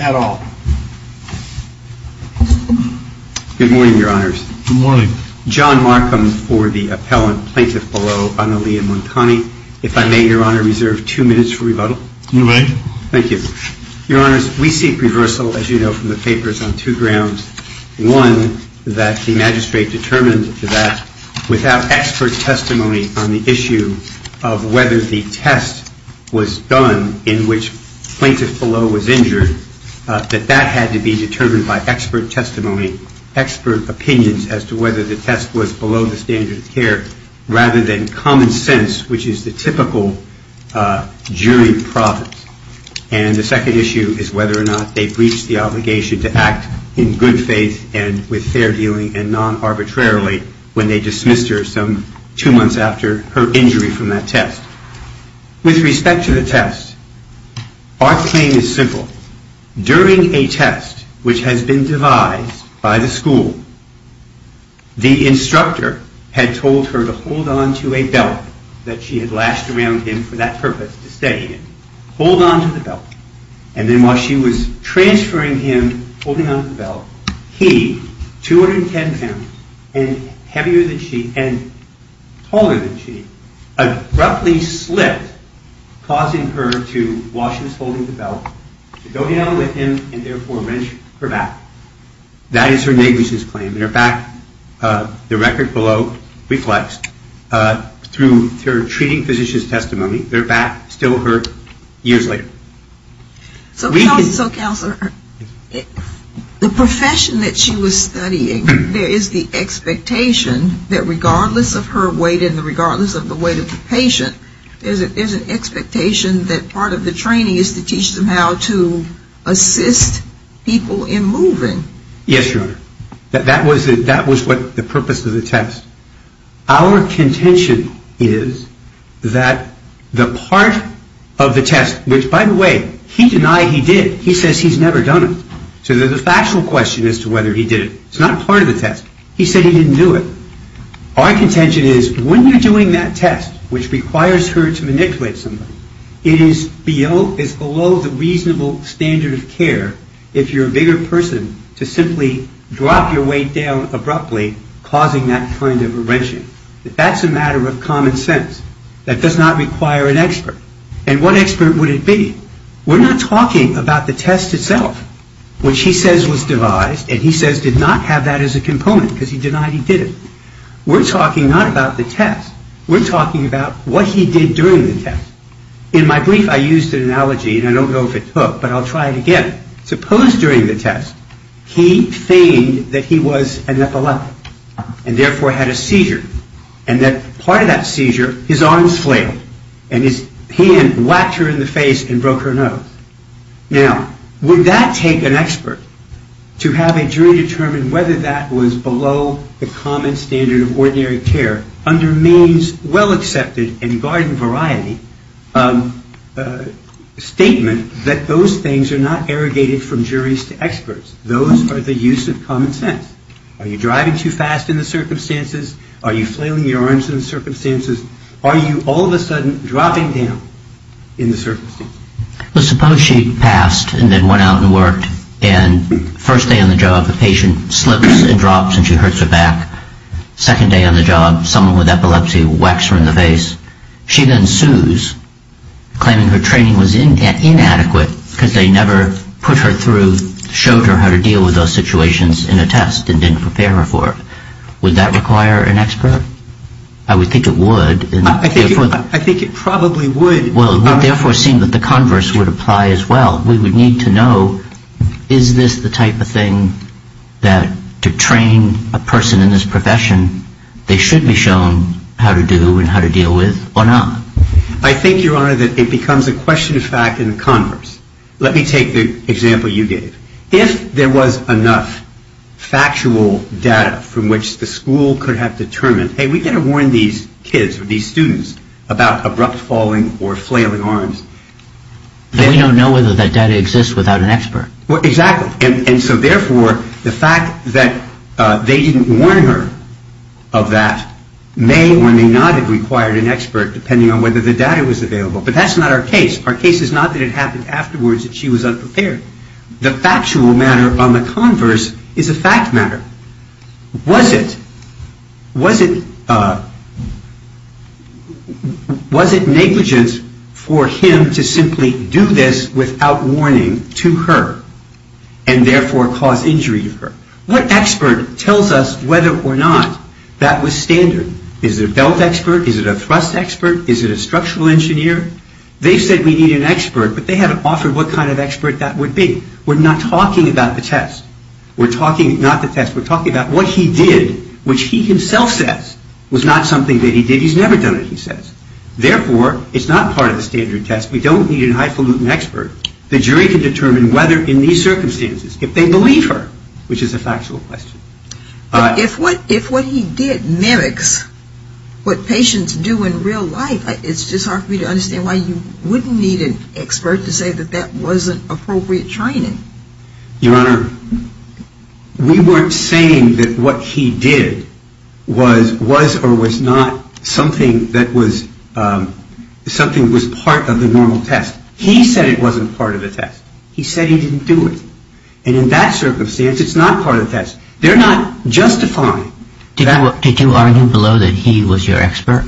at all. Good morning, your honors. Good morning. John Markham for the appellant, Plaintiff Below, Analia Montani. If I may, your honor, reserve two minutes for rebuttal. You may. Thank you. Your honors, we seek reversal, as you know from the papers, on two grounds. One, that the magistrate determined that without expert testimony on the issue of whether the test was done in which Plaintiff Below was injured, that that had to be determined by expert testimony, expert opinions as to whether the test was below the standard of care, rather than common sense, which is the typical jury province. And the second issue is whether or not they breached the obligation to act in good faith and with fair dealing and non-arbitrarily when they dismissed her some two months after her injury from that test. With respect to the test, our claim is simple. During a test which has been devised by the school, the instructor had told her to hold on to a belt that she had lashed around him for that purpose, to steady him. Hold on to the belt. And then while she was transferring him, holding on to the belt, he, 210 pounds, and heavier than she, and taller than she, abruptly slipped, causing her to, while she was holding the belt, to go down with him and therefore wrench her back. That is her negligence claim. In fact, the record below reflects through her treating physician's testimony, her back still hurt years later. So counselor, the profession that she was studying, there is the expectation that regardless of her weight and regardless of the weight of the patient, there is an expectation that part of the training is to teach them how to assist people in moving. Yes, your honor. That was the purpose of the test. Our contention is that the part of the test, which by the way, he denied he did. He says he's never done it. So there's a factual question as to whether he did it. It's not part of the test. He said he didn't do it. Our contention is when you're doing that test, which requires her to manipulate someone, it is below the reasonable standard of care if you're a bigger person to simply drop your weight down abruptly, causing that kind of a wrenching. That's a matter of common sense. That does not require an expert. And what expert would it be? We're not talking about the test itself, which he says was devised, and he says did not have that as a component because he denied he did it. We're talking not about the test. We're talking about what he did during the test. In my brief I used an analogy, and I don't know if it took, but I'll try it again. Suppose during the test he feigned that he was an epileptic and therefore had a seizure, and that part of that seizure his arms flailed and his hand whacked her in the face and broke her nose. Now, would that take an expert to have a jury determine whether that was below the common standard of ordinary care under means well accepted and garden variety statement that those things are not irrigated from juries to experts. Those are the use of common sense. Are you driving too fast in the circumstances? Are you flailing your arms in the circumstances? Are you all of a sudden dropping down in the circumstances? Suppose she passed and then went out and worked, and first day on the job the patient slips and drops and she hurts her back. Second day on the job someone with epilepsy whacks her in the face. She then sues, claiming her training was inadequate because they never put her through, showed her how to deal with those situations in a test and didn't prepare her for it. Would that require an expert? I would think it would. I think it probably would. Well, it would therefore seem that the converse would apply as well. We would need to know is this the type of thing that to train a person in this profession they should be shown how to do and how to deal with or not? I think, Your Honor, that it becomes a question of fact in the converse. Let me take the example you gave. If there was enough factual data from which the school could have determined, hey, we've got to warn these kids or these students about abrupt falling or flailing arms. But we don't know whether that data exists without an expert. Exactly. Therefore, the fact that they didn't warn her of that may or may not have required an expert depending on whether the data was available. But that's not our case. Our case is not that it happened afterwards that she was unprepared. The factual matter on the converse is a fact matter. Was it negligent for him to simply do this without warning to her and therefore cause injury to her? What expert tells us whether or not that was standard? Is it a belt expert? Is it a thrust expert? Is it a structural engineer? They've said we need an expert, but they haven't offered what kind of expert that would be. We're not talking about the test. We're talking not the test. We're talking about what he did, which he himself says was not something that he did. He's never done it, he says. Therefore, it's not part of the standard test. We don't need a highfalutin expert. The jury can determine whether in these circumstances, if they believe her, which is a factual question. If what he did mimics what patients do in real life, it's just hard for me to understand why you wouldn't need an expert to say that that wasn't appropriate training. Your Honor, we weren't saying that what he did was or was not something that was part of the normal test. He said it wasn't part of the test. He said he didn't do it. And in that circumstance, it's not part of the test. They're not justifying that. Did you argue below that he was your expert?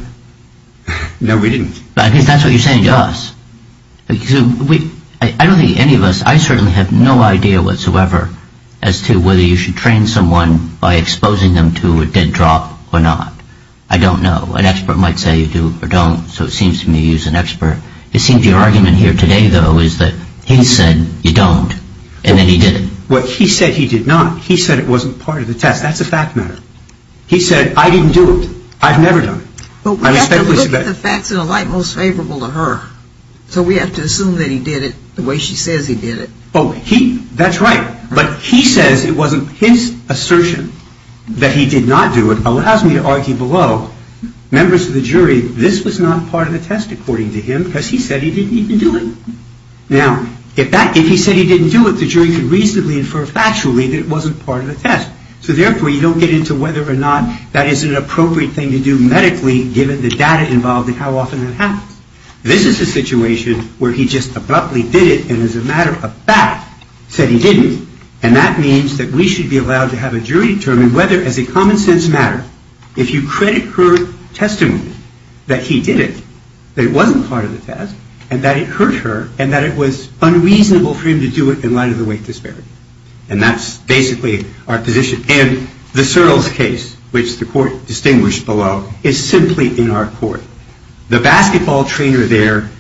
No, we didn't. I guess that's what you're saying to us. I don't think any of us, I certainly have no idea whatsoever as to whether you should train someone by exposing them to a dead drop or not. I don't know. An expert might say you do or don't, so it seems to me you use an expert. It seems your argument here today, though, is that he said you don't, and then he did it. Well, he said he did not. He said it wasn't part of the test. That's a fact matter. He said I didn't do it. I've never done it. But we have to look at the facts in a light most favorable to her. So we have to assume that he did it the way she says he did it. Oh, he, that's right. But he says it wasn't his assertion that he did not do it allows me to argue below, members of the jury, this was not part of the test according to him because he said he didn't even do it. Now, if he said he didn't do it, the jury could reasonably infer factually that it wasn't part of the test. So therefore, you don't get into whether or not that is an appropriate thing to do medically given the data involved and how often that happens. This is a situation where he just abruptly did it and as a matter of fact said he didn't, and that means that we should be allowed to have a jury determine whether as a common sense matter, if you credit her testimony that he did it, that it wasn't part of the test, and that it hurt her, and that it was unreasonable for him to do it in light of the weight disparity. And that's basically our position. And the Sertles case, which the court distinguished below, is simply in our court. The basketball trainer there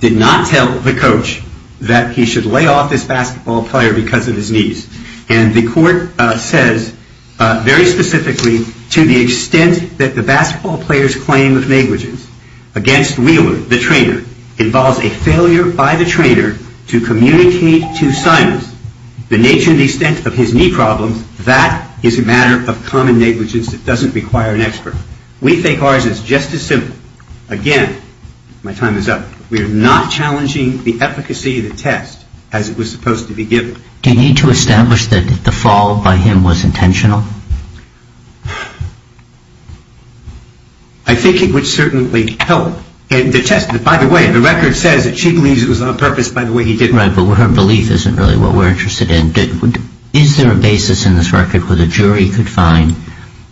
did not tell the coach that he should lay off this basketball player because of his knees. And the court says very specifically to the extent that the basketball player's claim of negligence against Wheeler, the trainer, involves a failure by the trainer to communicate to Simon the nature and the extent of his knee problems, that is a matter of common negligence that doesn't require an expert. We think ours is just as simple. Again, my time is up. We are not challenging the efficacy of the test as it was supposed to be given. Do you need to establish that the fall by him was intentional? I think it would certainly help. And the test, by the way, the record says that she believes it was on purpose by the way he did it. Right, but her belief isn't really what we're interested in. Is there a basis in this record where the jury could find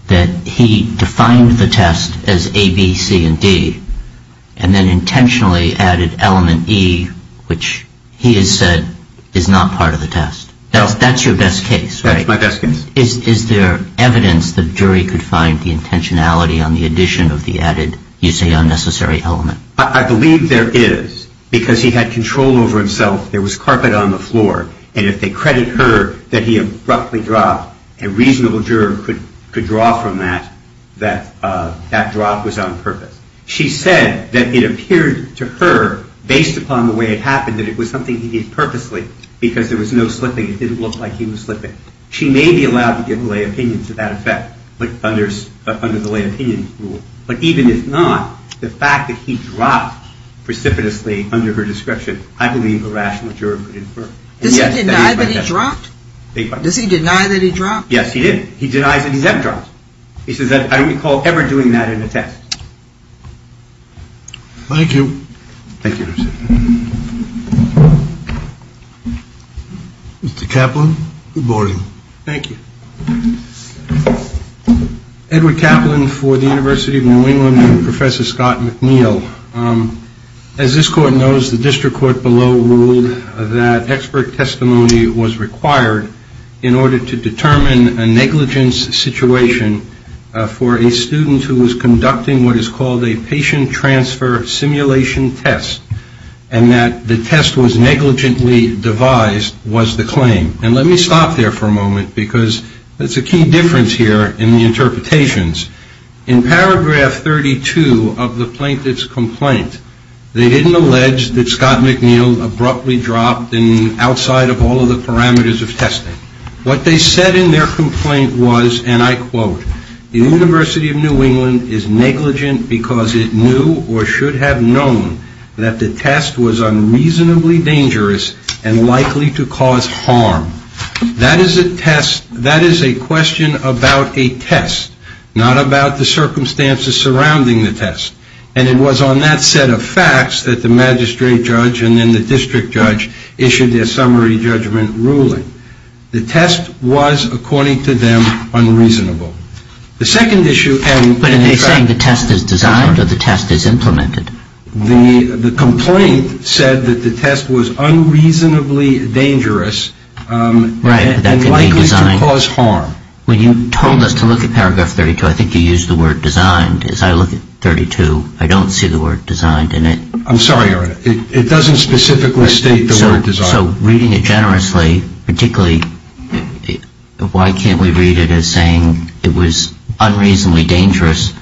that he defined the test as A, B, C, and D, and then intentionally added element E, which he has said is not part of the test? That's your best case, right? That's my best case. Is there evidence the jury could find the intentionality on the addition of the added you say unnecessary element? I believe there is because he had control over himself. There was carpet on the floor. And if they credit her that he abruptly dropped, a reasonable juror could draw from that that drop was on purpose. She said that it appeared to her, based upon the way it happened, that it was something he did purposely because there was no slipping. It didn't look like he was slipping. She may be allowed to give a lay opinion to that effect under the lay opinion rule. But even if not, the fact that he dropped precipitously under her description, I believe a rational juror could infer. Does he deny that he dropped? Yes, he did. He denies that he has dropped. He says, I recall every time he dropped, he measured it appropriately. You suggest that we start doing that in a test. Thank you. Thank you. Mr. Caplan, good morning. Thank you. Edward Caplan for the University of New England, and Professor Scott McNeil. As this Court knows, the District Court below ruled know expert testimony was required in order to determine a negligence situation for a student who was conducting what is called a patient transfer simulation test, and that the test was negligently devised was the claim. And let me stop there for a moment, because there's a key difference here in the interpretations. In paragraph 32 of the plaintiff's complaint, they didn't allege that Scott McNeil abruptly dropped outside of all of the parameters of testing. What they said in their complaint was, and I quote, the University of New England is negligent because it knew or should have known that the test was unreasonably dangerous and likely to cause harm. That is a test, that is a question about a test, not about the circumstances surrounding the test. And it was on that set of facts that the magistrate judge and then the district judge issued their summary judgment ruling. The test was, according to them, unreasonable. The second issue... But are they saying the test is designed or the test is implemented? The complaint said that the test was unreasonably dangerous and likely to cause harm. Right, that can be designed. When you told us to look at paragraph 32, I think you used the word designed. As I look at 32, I don't see the word designed in it. I'm sorry, Your Honor. It doesn't specifically state the word designed. So reading it generously, particularly, why can't we read it as saying it was unreasonably dangerous,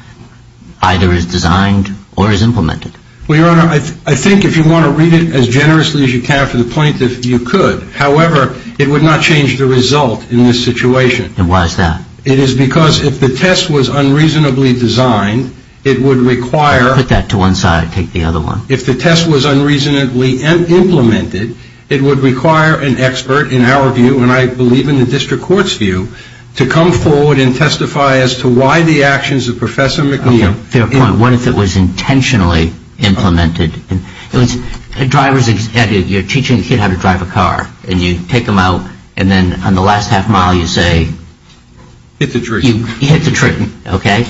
either as designed or as implemented? Well, Your Honor, I think if you want to read it as generously as you can for the plaintiff, you could. However, it would not change the result in this situation. And why is that? It is because if the test was unreasonably designed, it would require... Put that to one side, take the other one. If the test was unreasonably implemented, it would require an expert, in our view, and I believe in the district court's view, to come forward and testify as to why the actions of Professor McNeil... Fair point. What if it was intentionally implemented? You're teaching a kid how to drive a car and you take him out and then on the last half mile, you say... Hit the trick. You hit the trick, okay?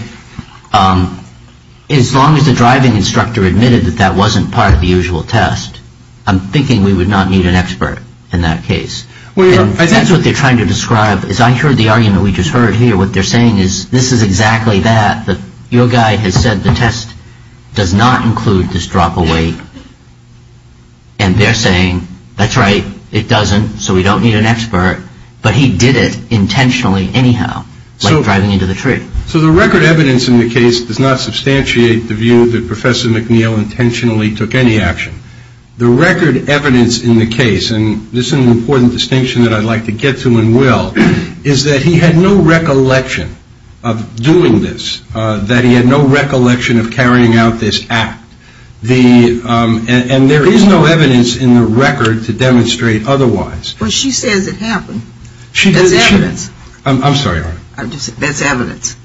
As long as the driving instructor admitted that that wasn't part of the usual test, I'm thinking we would not need an expert in that case. Well, Your Honor... And that's what they're trying to describe. As I heard the argument we just heard here, what they're saying is, this is exactly that, that your guy has said the test does not include this drop away, and they're saying, that's right, it doesn't, so we don't need an expert, but he did it intentionally anyhow, like driving into the tree. So the record evidence in the case does not substantiate the view that Professor McNeil intentionally took any action. The record evidence in the case, and this is an important distinction that I'd like to get to and will, is that he had no recollection of doing this, that he had no recollection of carrying out this act, and there is no evidence in the record to demonstrate otherwise. Well, she says it happened. That's evidence. I'm sorry, Your Honor. I'm just saying, that's evidence.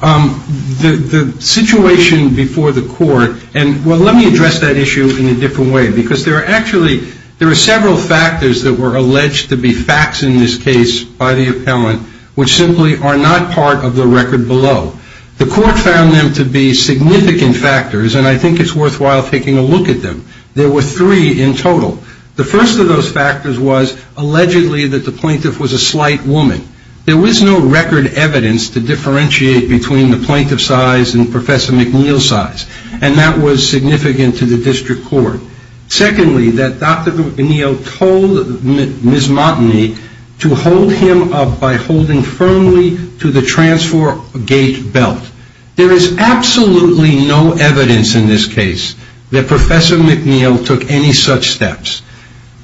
The situation before the court, and well, let me address that issue in a different way, because there are actually, there are several factors that were alleged to be facts in this The court found them to be significant factors, and I think it's worthwhile taking a look at them. There were three in total. The first of those factors was, allegedly, that the plaintiff was a slight woman. There was no record evidence to differentiate between the plaintiff's size and Professor McNeil's size, and that was significant to the district court. Secondly, that Dr. McNeil told Ms. Montagne to hold him up by holding firmly to the transfer gate belt. There is absolutely no evidence in this case that Professor McNeil took any such steps.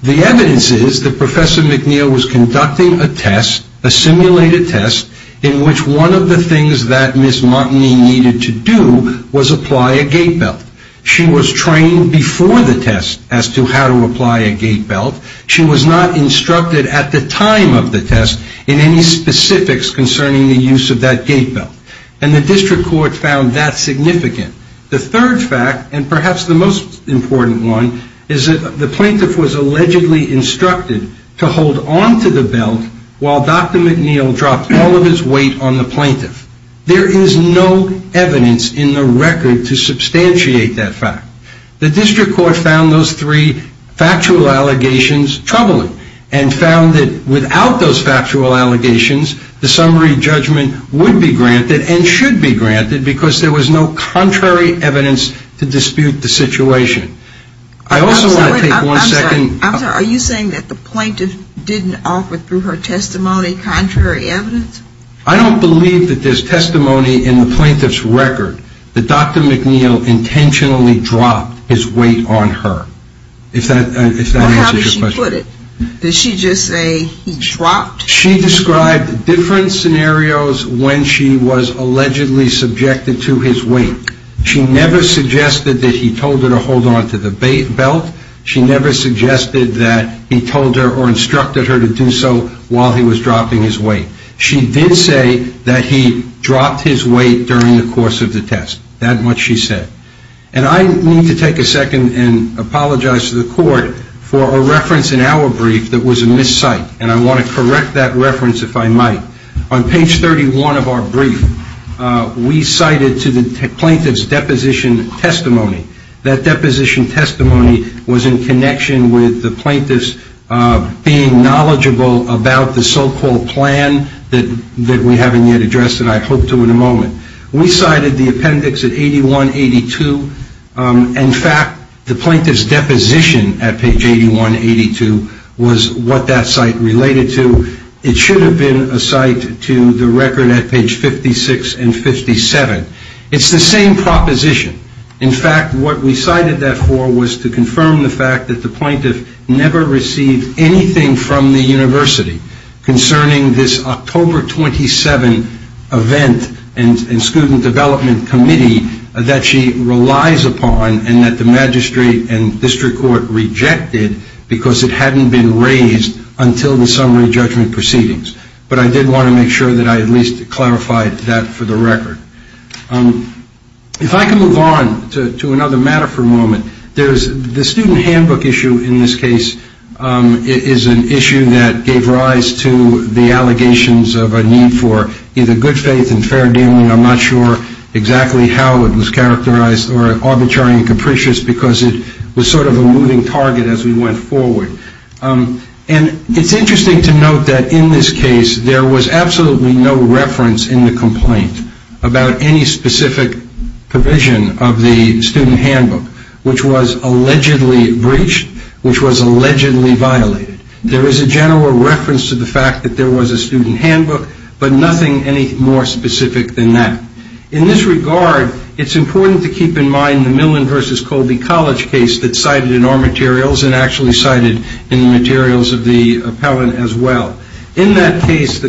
The evidence is that Professor McNeil was conducting a test, a simulated test, in which one of the things that Ms. Montagne needed to do was apply a gate belt. She was trained before the test as to how to apply a gate belt. She was not instructed at the time of the test in any specifics concerning the use of that gate belt, and the district court found that significant. The third fact, and perhaps the most important one, is that the plaintiff was allegedly instructed to hold onto the belt while Dr. McNeil dropped all of his weight on the plaintiff. There is no evidence in the record to substantiate that fact. The district court found those three factual allegations troubling, and found that without those factual allegations, the summary judgment would be granted and should be granted because there was no contrary evidence to dispute the situation. I also want to take one second. I'm sorry, are you saying that the plaintiff didn't offer through her testimony contrary evidence? I don't believe that there's testimony in the plaintiff's record that Dr. McNeil intentionally dropped his weight on her. If that answers your question. Well, how did she put it? Did she just say he dropped? She described different scenarios when she was allegedly subjected to his weight. She never suggested that he told her to hold onto the belt. She never suggested that he told her or instructed her to do so while he was dropping his weight. She did say that he dropped his weight during the course of the test. That much she said. And I need to take a second and apologize to the court for a reference in our brief that was a miscite. And I want to correct that reference if I might. On page 31 of our brief, we cited to the plaintiff's deposition testimony. That deposition testimony was in connection with the plaintiff's being cited the appendix at 8182. In fact, the plaintiff's deposition at page 8182 was what that site related to. It should have been a site to the record at page 56 and 57. It's the same proposition. In fact, what we cited that for was to confirm the fact that the plaintiff never received anything from the university concerning this October 27 event and student development committee that she relies upon and that the magistrate and district court rejected because it hadn't been raised until the summary judgment proceedings. But I did want to make sure that I at least clarified that for the record. If I can move on to another matter for a moment. The student handbook issue in this case is an issue that gave rise to the allegations of a need for either good faith and fair dealing. I'm not sure exactly how it was characterized or arbitrary and capricious because it was sort of a moving target as we went forward. And it's interesting to note that in this case, there was no complaint about any specific provision of the student handbook, which was allegedly breached, which was allegedly violated. There was a general reference to the fact that there was a student handbook, but nothing any more specific than that. In this regard, it's important to keep in mind the Millen versus Colby College case that's cited in our materials and actually cited in the materials of the appellant as well. In that case, the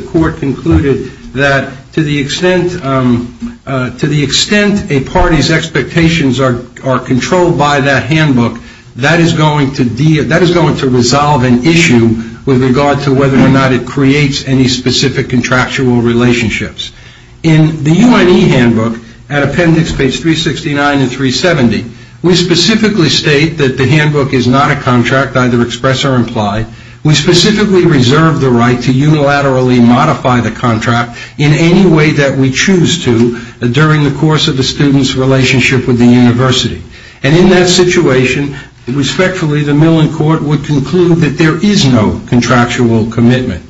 extent, to the extent a party's expectations are controlled by that handbook, that is going to, that is going to resolve an issue with regard to whether or not it creates any specific contractual relationships. In the UNE handbook, at appendix page 369 and 370, we specifically state that the handbook is not a contract, either express or imply. We specifically reserve the right to unilaterally modify the contract in any way that we choose to during the course of the student's relationship with the university. And in that situation, respectfully, the Millen court would conclude that there is no contractual commitment.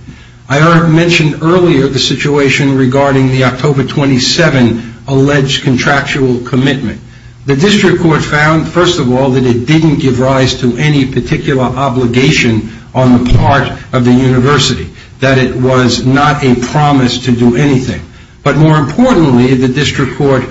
I mentioned earlier the situation regarding the October 27 alleged contractual commitment. The district court found, first of all, that it didn't give rise to any particular obligation on the part of the university, that it was not a promise to do anything. But more importantly, the district court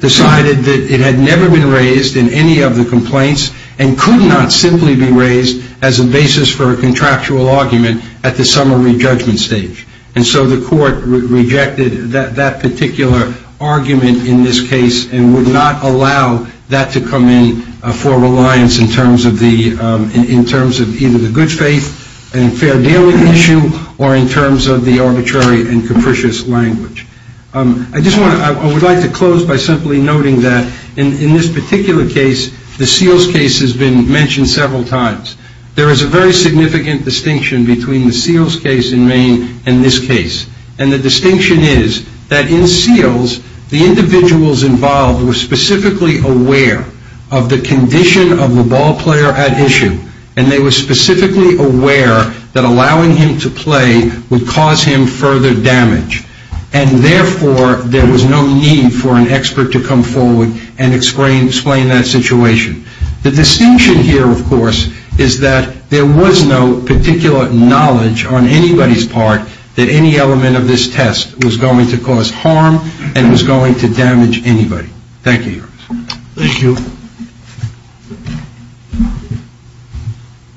decided that it had never been raised in any of the complaints and could not simply be raised as a basis for a contractual argument at the summary judgment stage. And so the court rejected that particular argument in this case and would not allow that to come in for reliance in terms of the, in terms of either the good faith and fair dealing issue or in terms of the arbitrary and capricious language. I just want to, I would like to close by simply noting that in this particular case, the Seals case has been mentioned several times. There is a very significant distinction between the Seals case in Maine and this case. And the distinction is that in Seals, the individuals involved were specifically aware of the condition of the ball player at issue. And they were specifically aware that allowing him to play would cause him further damage. And therefore, there was no need for an expert to come forward and explain that situation. The distinction here, of course, is that there was no particular knowledge on anybody's part that any element of this test was going to cause harm and was going to damage anybody. Thank you, Your Honor. Thank you.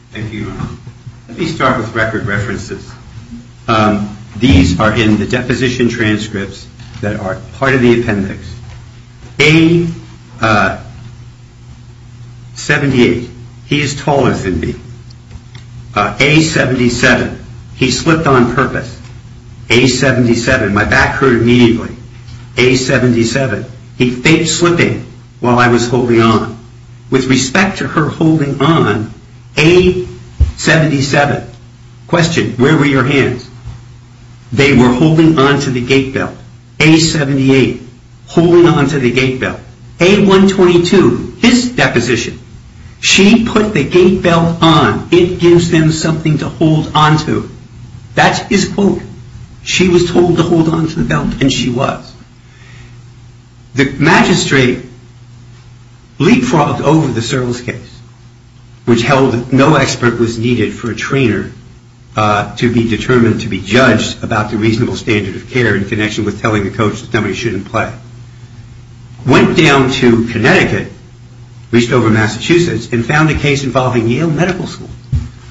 Thank you, Your Honor. Let me start with record references. These are in the deposition transcripts that are part of the appendix. A-78, he is taller than me. A-77, he slipped on purpose. A-77, my back hurt immediately. A-77, he faked slipping while I was holding on. With respect to her holding on, A-77, question, where were your hands? They were holding on to the gate belt. A-78, holding on to the gate belt. A-122, his deposition, she put the gate belt on. It gives them something to hold on to. That's his quote. She was told to hold on to the belt and she was. The magistrate leapfrogged over the service case, which held that no expert was needed for a trainer to be determined to be judged about the reasonable standard of care in connection with telling the coach that nobody shouldn't play. Went down to Connecticut, reached over Massachusetts, and found a case involving Yale Medical School,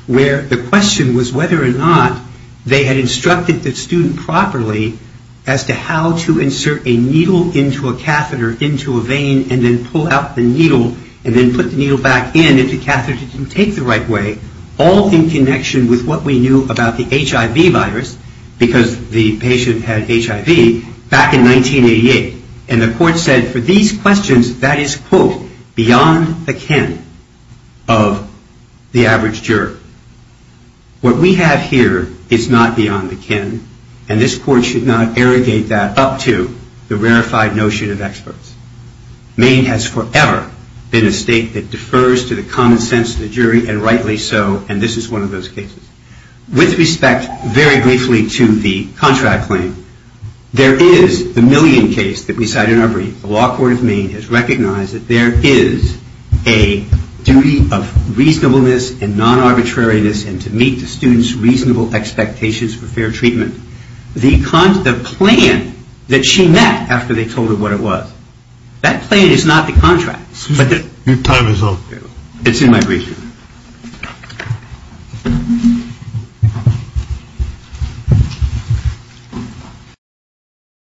where the question was whether or not they had instructed the student properly as to how to insert a needle into a catheter into a vein and then pull out the needle and then put the needle back in if the catheter didn't take the right way, all in connection with what we knew about the HIV virus, because the patient had HIV, back in 1988. And the court said, for these questions, that is, quote, beyond the kin of the average juror. What we have here is not beyond the kin, and this court should not irrigate that up to the rarefied notion of experts. Maine has forever been a state that defers to the common sense of the jury and rightly so, and this is one of those cases. With respect, very briefly, to the contract claim, there is the Millian case that we cited in our brief. The law court of Maine has recognized that there is a duty of reasonableness and non-arbitrariness and to meet the student's reasonable expectations for fair treatment. The plan that she met after they told her what it was. That plan is not the contract.